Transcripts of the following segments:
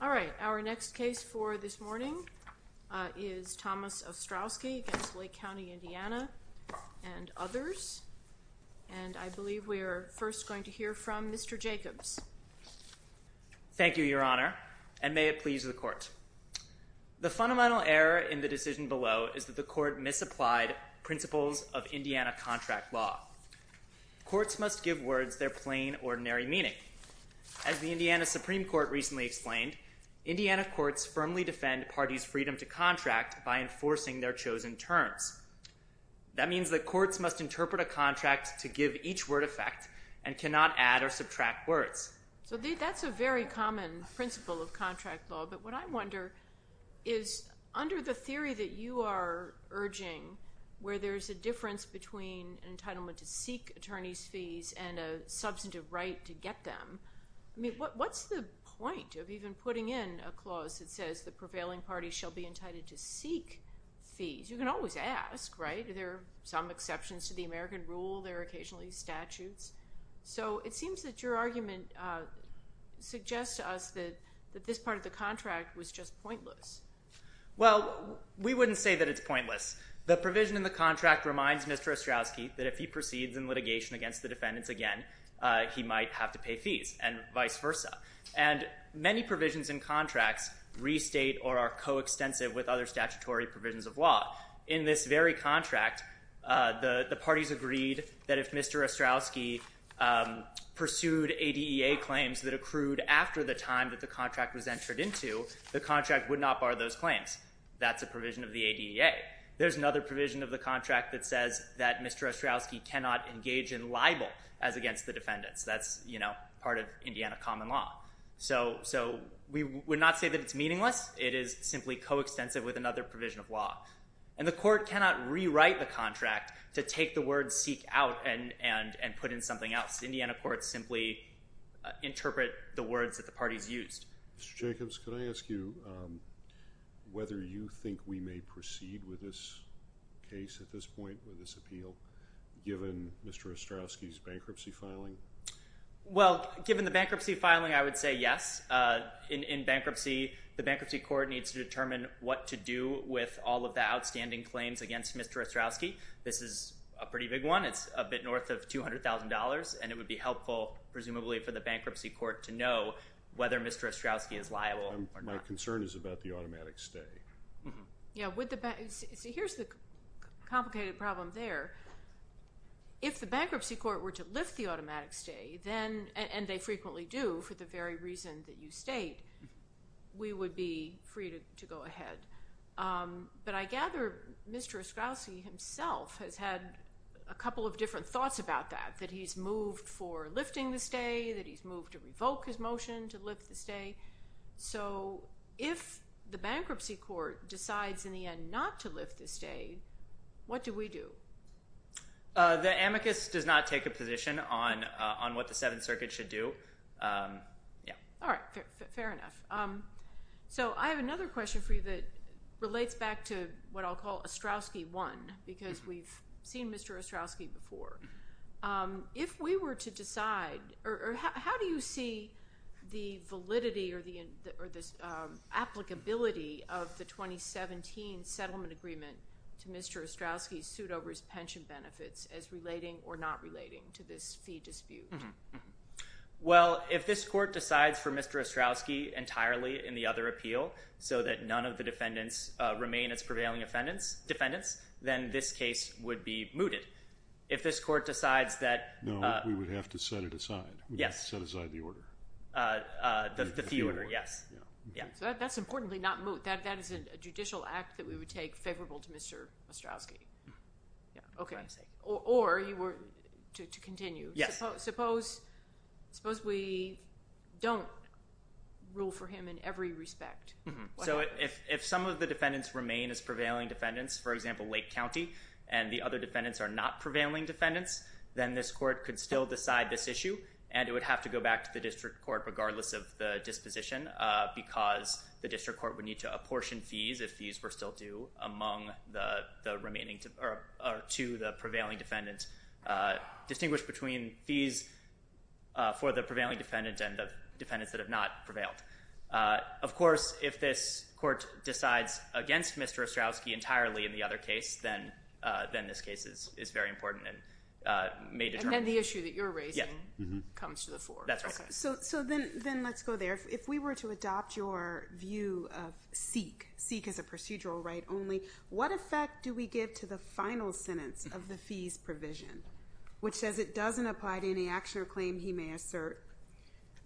All right, our next case for this morning is Thomas Ostrowski against Lake County, Indiana and others. And I believe we are first going to hear from Mr. Jacobs. Thank you, Your Honor, and may it please the court. The fundamental error in the decision below is that the court misapplied principles of Indiana contract law. Courts must give words their plain, ordinary meaning. As the Indiana Supreme Court recently explained, Indiana courts firmly defend parties' freedom to contract by enforcing their chosen terms. That means that courts must interpret a contract to give each word effect and cannot add or subtract words. So that's a very common principle of contract law. But what I wonder is, under the theory that you are urging, where there is a difference between an entitlement to seek attorney's fees and a substantive right to get them, I mean, what's the point of even putting in a clause that says the prevailing party shall be entitled to seek fees? You can always ask, right? There are some exceptions to the American rule. There are occasionally statutes. So it seems that your argument suggests to us that this part of the contract was just pointless. Well, we wouldn't say that it's pointless. The provision in the contract reminds Mr. Ostrowski that if he proceeds in litigation against the defendants again, he might have to pay fees, and vice versa. And many provisions in contracts restate or are coextensive with other statutory provisions of law. In this very contract, the parties agreed that if Mr. Ostrowski pursued ADEA claims that accrued after the time that the contract was entered into, the contract would not bar those claims. That's a provision of the ADEA. There's another provision of the contract that says that Mr. Ostrowski cannot engage in libel as against the defendants. That's part of Indiana common law. So we would not say that it's meaningless. It is simply coextensive with another provision of law. And the court cannot rewrite the contract to take the word seek out and put in something else. Indiana courts simply interpret the words that the parties used. Mr. Jacobs, could I ask you whether you think we may proceed with this case at this point, with this appeal, given Mr. Ostrowski's bankruptcy filing? Well, given the bankruptcy filing, I would say yes. In bankruptcy, the bankruptcy court needs to determine what to do with all of the outstanding claims against Mr. Ostrowski. This is a pretty big one. It's a bit north of $200,000. And it would be helpful, presumably, for the bankruptcy court to know whether Mr. Ostrowski is liable or not. My concern is about the automatic stay. Yeah, here's the complicated problem there. If the bankruptcy court were to lift the automatic stay, and they frequently do for the very reason that you state, we would be free to go ahead. But I gather Mr. Ostrowski himself has had a couple of different thoughts about that, that he's moved for lifting the stay, that he's moved to revoke his motion to lift the stay. So if the bankruptcy court decides, in the end, not to lift the stay, what do we do? The amicus does not take a position on what the Seventh Circuit should do. All right, fair enough. So I have another question for you that relates back to what I'll call Ostrowski 1, because we've seen Mr. Ostrowski before. If we were to decide, or how do you see the validity or the applicability of the 2017 settlement agreement to Mr. Ostrowski's suit over his pension benefits as relating or not relating to this fee dispute? Well, if this court decides for Mr. Ostrowski entirely in the other appeal, so that none of the defendants remain as prevailing defendants, then this case would be mooted. If this court decides that. No, we would have to set it aside. Yes. We would have to set aside the order. The fee order, yes. So that's importantly not moot. That is a judicial act that we would take favorable to Mr. Ostrowski. OK, or to continue, suppose we don't rule for him in every respect. So if some of the defendants remain as prevailing defendants, for example, Lake County, and the other defendants are not prevailing defendants, then this court could still decide this issue. And it would have to go back to the district court regardless of the disposition, because the district court would need to apportion fees if fees were still due among the remaining, or to the prevailing defendants. Distinguish between fees for the prevailing defendants and the defendants that have not prevailed. Of course, if this court decides against Mr. Ostrowski entirely in the other case, then this case is very important and may determine. And the issue that you're raising comes to the fore. That's right. So then let's go there. If we were to adopt your view of SEEK, SEEK as a procedural right only, what effect do we give to the final sentence of the fees provision, which says it doesn't apply to any action or claim he may assert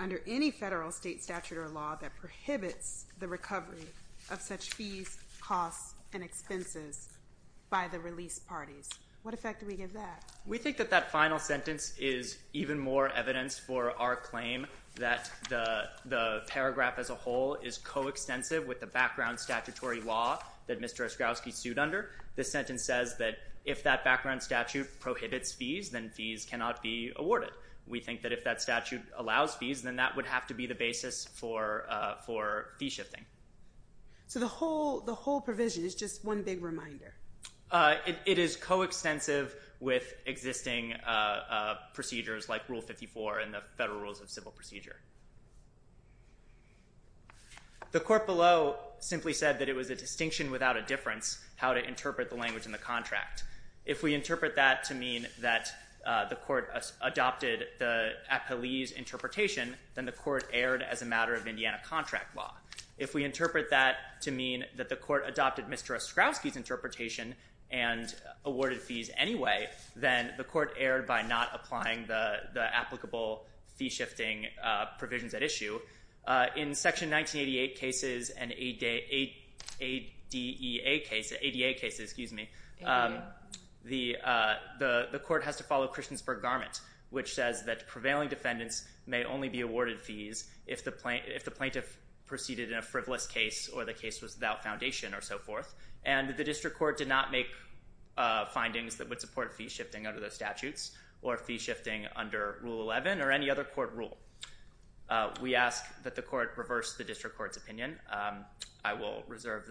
under any federal, state, statute, or law that prohibits the recovery of such fees, costs, and expenses by the release parties? What effect do we give that? We think that that final sentence is even more evidence for our claim that the paragraph as a whole is coextensive with the background statutory law that Mr. Ostrowski sued under. The sentence says that if that background statute prohibits fees, then fees cannot be awarded. We think that if that statute allows fees, then that would have to be the basis for fee shifting. So the whole provision is just one big reminder. It is coextensive with existing procedures, like Rule 54 and the Federal Rules of Civil Procedure. The court below simply said that it was a distinction without a difference how to interpret the language in the contract. If we interpret that to mean that the court adopted the appellee's interpretation, then the court erred as a matter of Indiana contract law. If we interpret that to mean that the court adopted Mr. Ostrowski's interpretation and awarded fees anyway, then the court erred by not applying the applicable fee shifting provisions at issue. In Section 1988 cases and ADA cases, the court has to follow Christiansburg Garment, which says that prevailing defendants may only be awarded fees if the plaintiff proceeded in a frivolous case or the case was without foundation or so forth. And the district court did not make findings that would support fee shifting under the statutes or fee shifting under Rule 11 or any other court rule. We ask that the court reverse the district court's opinion. I will reserve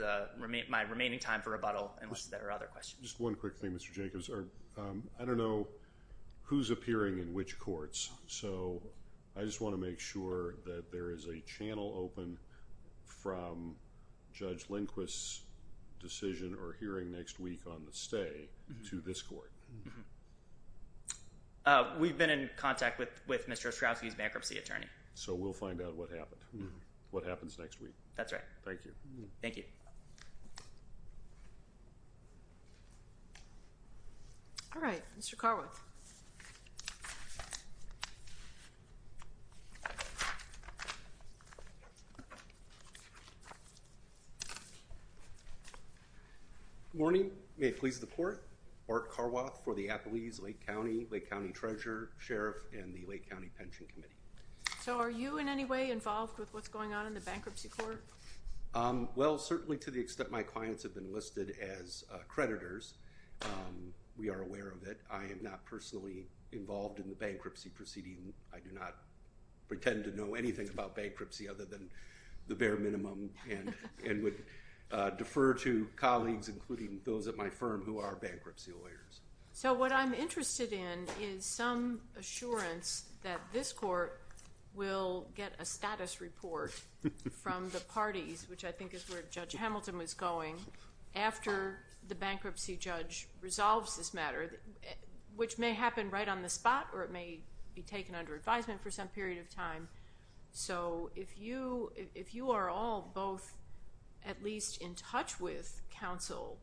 my remaining time for rebuttal unless there are other questions. Just one quick thing, Mr. Jacobs. I don't know who's appearing in which courts. So I just want to make sure that there is a channel open from Judge Lindquist's decision or hearing next week on the stay to this court. We've been in contact with Mr. Ostrowski's bankruptcy attorney. So we'll find out what happened, what happens next week. That's right. Thank you. Thank you. All right, Mr. Carwith. Thank you. Good morning. May it please the court. Mark Carwith for the Appalachia Lake County, Lake County Treasurer, Sheriff, and the Lake County Pension Committee. So are you in any way involved with what's going on in the bankruptcy court? Well, certainly to the extent my clients have been listed as creditors, we are aware of it. I am not personally involved in the bankruptcy proceeding. I do not pretend to know anything about bankruptcy other than the bare minimum and would defer to colleagues, including those at my firm who are bankruptcy lawyers. So what I'm interested in is some assurance that this court will get a status report from the parties, which I think is where Judge Hamilton was going, after the bankruptcy judge resolves this matter, which may happen right on the spot or it may be taken under advisement for some period of time. So if you are all both at least in touch with counsel,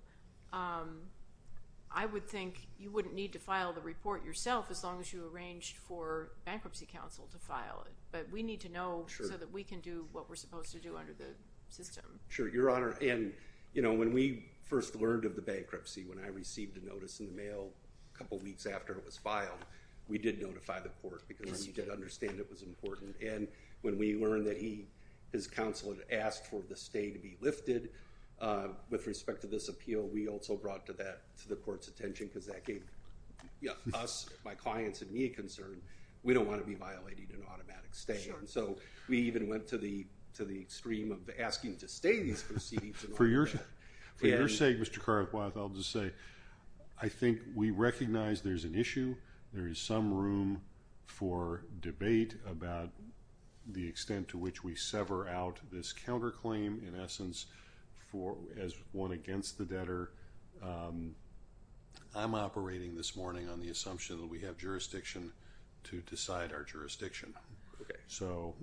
I would think you wouldn't need to file the report yourself as long as you arranged for bankruptcy counsel to file it. But we need to know so that we can do what we're supposed to do under the system. Sure, Your Honor. And when we first learned of the bankruptcy, when I received a notice in the mail a couple of weeks after it was filed, we did notify the court because we did understand it was important. And when we learned that his counsel had asked for the stay to be lifted with respect to this appeal, we also brought that to the court's attention because that gave us, my clients, and me a concern. We don't want to be violating an automatic stay. So we even went to the extreme of asking to stay these proceedings. For your sake, Mr. Carr, I'll just say, I think we recognize there's an issue. There is some room for debate about the extent to which we sever out this counterclaim. In essence, as one against the debtor, I'm operating this morning on the assumption that we have jurisdiction to decide our jurisdiction. So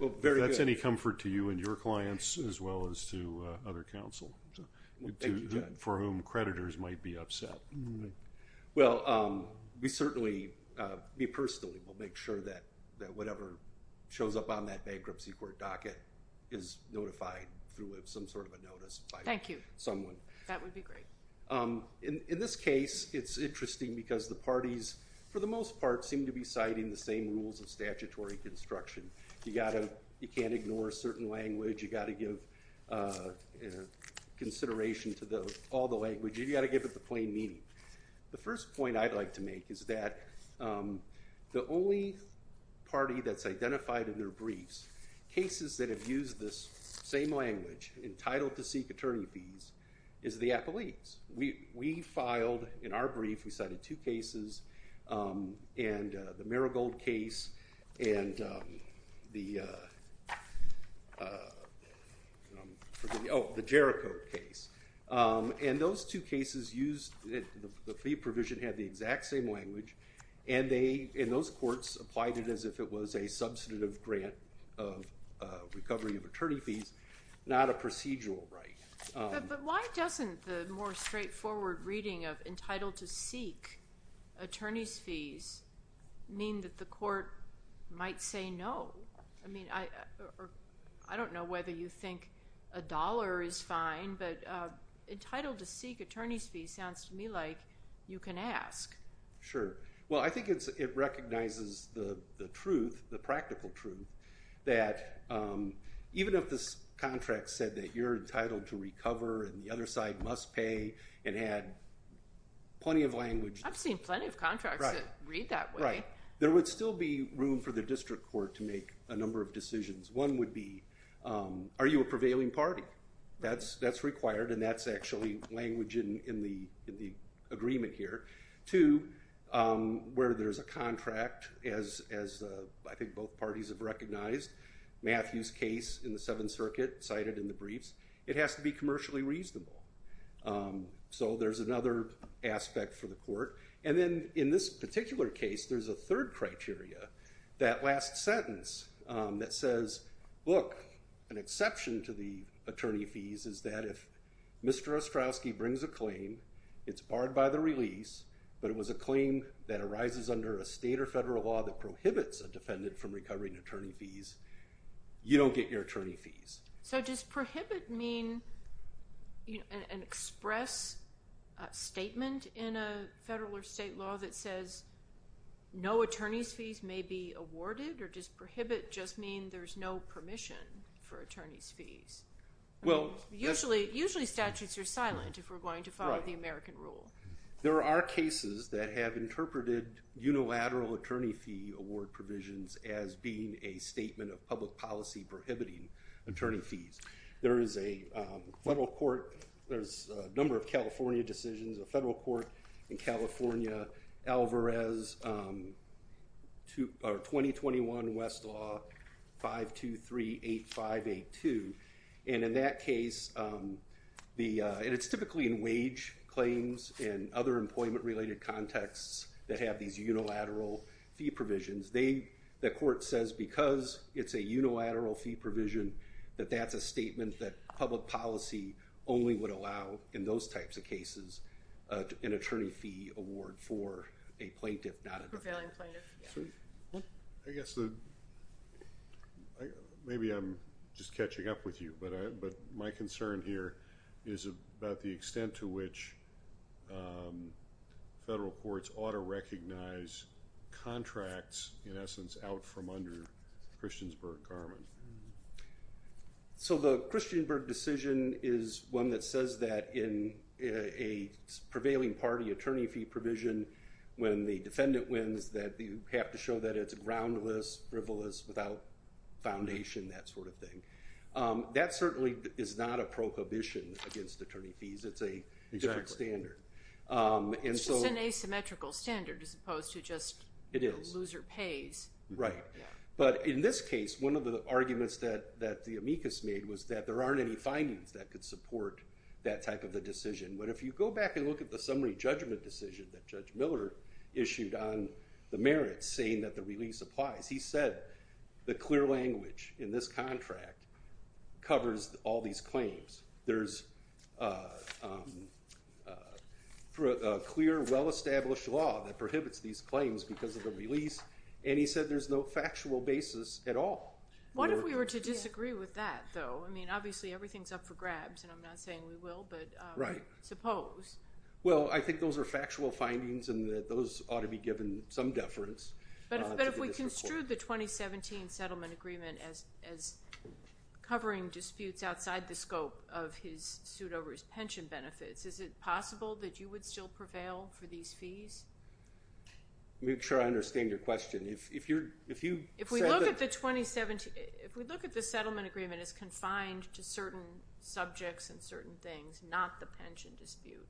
if that's any comfort to you and your clients, as well as to other counsel for whom creditors might be upset. Well, we certainly, me personally, will make sure that whatever shows up on that bankruptcy court docket is notified through some sort of a notice by someone. That would be great. In this case, it's interesting because the parties, for the most part, seem to be citing the same rules of statutory construction. You can't ignore a certain language. You've got to give consideration to all the language. You've got to give it the plain meaning. The first point I'd like to make is that the only party that's identified in their briefs, cases that have used this same language, entitled to seek attorney fees, is the appellees. We filed, in our brief, we cited two cases. And the Marigold case and the Jericho case. And those two cases used the fee provision had the exact same language. And those courts applied it as if it was a substantive grant of recovery of attorney fees, not a procedural right. But why doesn't the more straightforward reading of entitled to seek attorney's fees mean that the court might say no? I mean, I don't know whether you think a dollar is fine. But entitled to seek attorney's fees sounds to me like you can ask. Sure. Well, I think it recognizes the truth, the practical truth, that even if this contract said that you're entitled to recover and the other side must pay and had plenty of language. I've seen plenty of contracts that read that way. There would still be room for the district court to make a number of decisions. One would be, are you a prevailing party? That's required. And that's actually language in the agreement here. Two, where there's a contract, as I think both parties have recognized, Matthew's case in the Seventh Circuit, cited in the briefs. It has to be commercially reasonable. So there's another aspect for the court. And then in this particular case, there's a third criteria, that last sentence that says, look, an exception to the attorney fees is that if Mr. Ostrowski brings a claim, it's barred by the release, but it was a claim that arises under a state or federal law that prohibits a defendant from recovering attorney fees, you don't get your attorney fees. So does prohibit mean an express statement in a federal or state law that says no attorney's fees may be awarded? Or does prohibit just mean there's no permission for attorney's fees? Usually, statutes are silent if we're going to follow the American rule. There are cases that have interpreted unilateral attorney fee award provisions as being a statement of public policy prohibiting attorney fees. There is a federal court. There's a number of California decisions, a federal court in California, Alvarez, 2021 West Law, 523-8582. And in that case, it's typically in wage claims and other employment-related contexts that have these unilateral fee provisions. The court says, because it's a unilateral fee provision, that that's a statement that public policy only would allow in those types of cases an attorney fee award for a plaintiff, not a defendant. For failing plaintiff, yeah. I guess maybe I'm just catching up with you, but my concern here is about the extent to which federal courts ought to recognize contracts, in essence, out from under Christiansburg-Garmon. So the Christiansburg decision is one that says that in a prevailing party attorney fee provision, when the defendant wins, that you have to show that it's groundless, frivolous, without foundation, that sort of thing. That certainly is not a prohibition against attorney fees. It's a district standard. It's just an asymmetrical standard, as opposed to just the loser pays. Right. But in this case, one of the arguments that the amicus made was that there aren't any findings that could support that type of a decision. But if you go back and look at the summary judgment decision that Judge Miller issued on the merits, saying that the release applies, he said the clear language in this contract covers all these claims. There's a clear, well-established law that prohibits these claims because of the release. And he said there's no factual basis at all. What if we were to disagree with that, though? I mean, obviously, everything's up for grabs. And I'm not saying we will, but suppose. Well, I think those are factual findings, and that those ought to be given some deference. But if we construed the 2017 settlement agreement as covering disputes outside the scope of his suit over his pension benefits, is it possible that you would still prevail for these fees? Make sure I understand your question. If we look at the 2017, if we look at the settlement agreement as confined to certain subjects and certain things, not the pension dispute,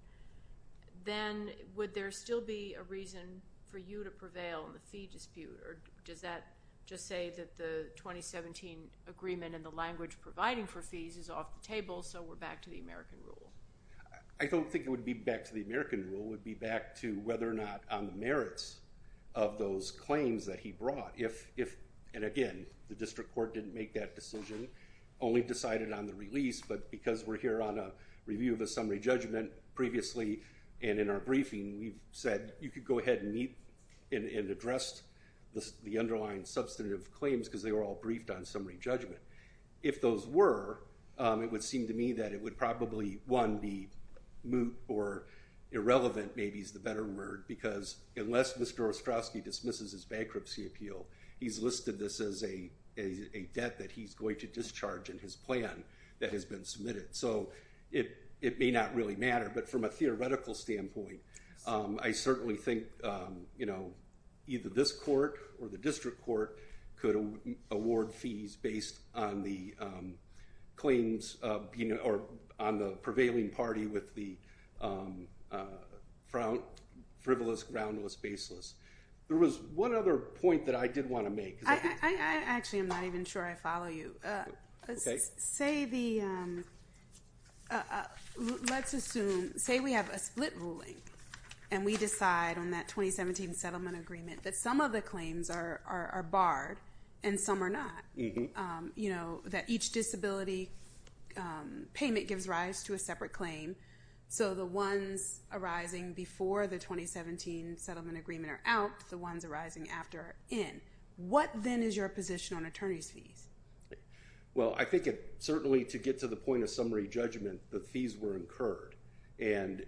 then would there still be a reason for you to prevail in the fee dispute? Does that just say that the 2017 agreement and the language providing for fees is off the table, so we're back to the American rule? I don't think it would be back to the American rule. It would be back to whether or not on the merits of those claims that he brought. And again, the district court didn't make that decision, only decided on the release. But because we're here on a review of a summary judgment previously, and in our briefing, we've said you could go ahead and meet and address the underlying substantive claims, because they were all briefed on summary judgment. If those were, it would seem to me that it would probably, one, be moot or irrelevant, maybe is the better word. Because unless Mr. Ostrowski dismisses his bankruptcy appeal, he's listed this as a debt that he's going to discharge in his plan that has been submitted. So it may not really matter. But from a theoretical standpoint, I certainly think either this court or the district court could award fees based on the claims or on the prevailing party with the frivolous, groundless, baseless. There was one other point that I did want to make. Actually, I'm not even sure I follow you. Say the, let's assume, say we have a split ruling. And we decide on that 2017 settlement agreement that some of the claims are barred and some are not. That each disability payment gives rise to a separate claim. So the ones arising before the 2017 settlement agreement are out, the ones arising after are in. What then is your position on attorney's fees? Well, I think certainly to get to the point of summary judgment, the fees were incurred. And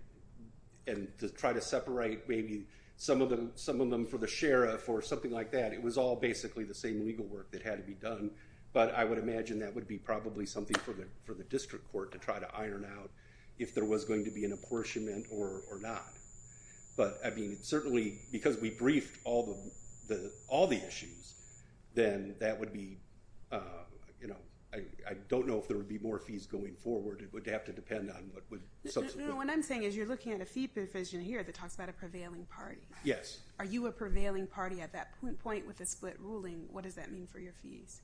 to try to separate maybe some of them for the sheriff or something like that, it was all basically the same legal work that had to be done. But I would imagine that would be probably something for the district court to try to iron out if there was going to be an apportionment or not. But I mean, certainly because we briefed all the issues, then that would be, I don't know if there would be more fees going forward. It would have to depend on what would subsequently happen. No, what I'm saying is you're looking at a fee provision here that talks about a prevailing party. Yes. Are you a prevailing party at that point with a split ruling? What does that mean for your fees?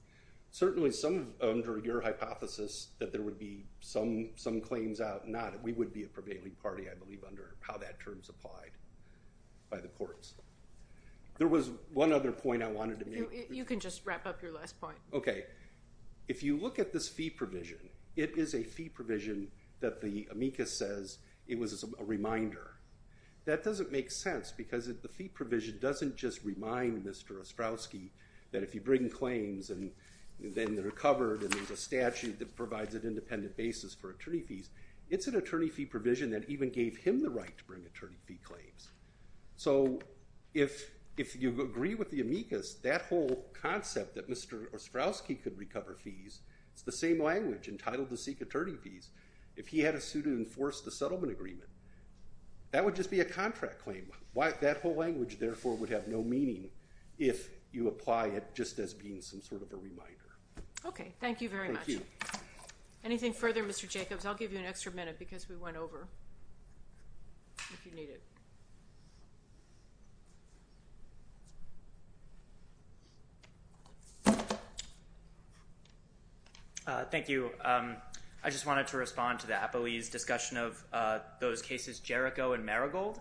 Certainly, some under your hypothesis that there would be some claims out, not. We would be a prevailing party, I believe, if those terms applied by the courts. There was one other point I wanted to make. You can just wrap up your last point. OK. If you look at this fee provision, it is a fee provision that the amicus says it was a reminder. That doesn't make sense because the fee provision doesn't just remind Mr. Ostrowski that if you bring claims and then they're covered and there's a statute that provides an independent basis for attorney fees, it's an attorney fee provision that even gave him the right to bring attorney fee claims. So if you agree with the amicus, that whole concept that Mr. Ostrowski could recover fees, it's the same language entitled to seek attorney fees. If he had to sue to enforce the settlement agreement, that would just be a contract claim. That whole language, therefore, would have no meaning if you apply it just as being some sort of a reminder. OK, thank you very much. Anything further, Mr. Jacobs? I'll give you an extra minute because we went over if you need it. Thank you. I just wanted to respond to the Apoese discussion of those cases Jericho and Marigold.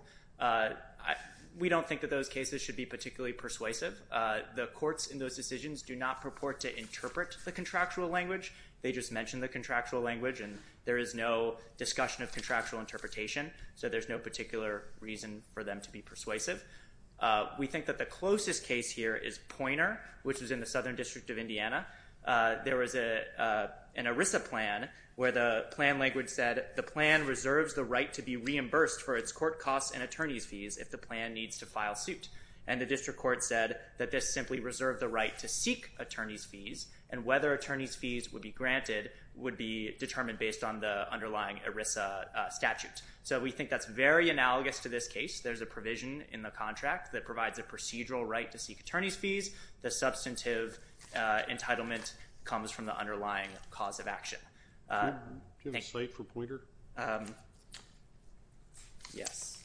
We don't think that those cases should be particularly persuasive. The courts in those decisions do not purport to interpret the contractual language. They just mention the contractual language and there is no discussion of contractual interpretation. So there's no particular reason for them to be persuasive. We think that the closest case here is Poynter, which is in the Southern District of Indiana. There was an ERISA plan where the plan language said, the plan reserves the right to be reimbursed for its court costs and attorney's fees if the plan needs to file suit. And the district court said that this simply reserved the right to seek attorney's fees and whether attorney's fees would be granted would be determined based on the underlying ERISA statute. So we think that's very analogous to this case. There's a provision in the contract that provides a procedural right to seek attorney's fees. The substantive entitlement comes from the underlying cause of action. Do you have a cite for Poynter? Yes.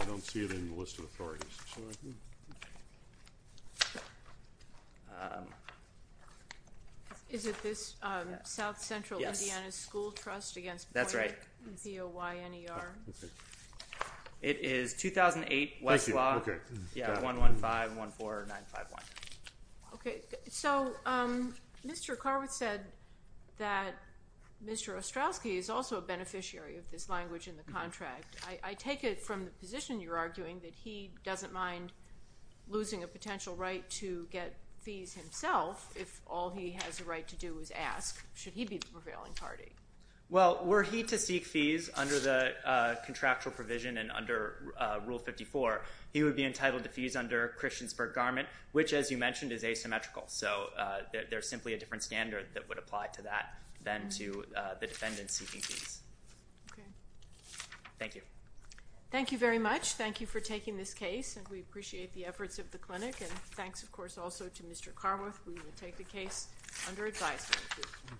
I don't see it in the list of authorities. Is it this South Central Indiana School Trust against Poynter? That's right. P-O-Y-N-E-R. It is 2008 Westlaw, yeah, 115-14951. OK. So Mr. Carwith said that Mr. Ostrowski is also a beneficiary of this language in the contract. arguing that he doesn't want to be a beneficiary of this. mind losing a potential right to get fees himself if all he has the right to do is ask, should he be the prevailing party? Well, were he to seek fees under the contractual provision and under Rule 54, he would be entitled to fees under Christiansburg garment, which, as you mentioned, is asymmetrical. So there's simply a different standard that would apply to that than to the defendant seeking fees. OK. Thank you. Thank you very much. Thank you for taking this case. And we appreciate the efforts of the clinic. And thanks, of course, also to Mr. Carwith. We will take the case under advisement.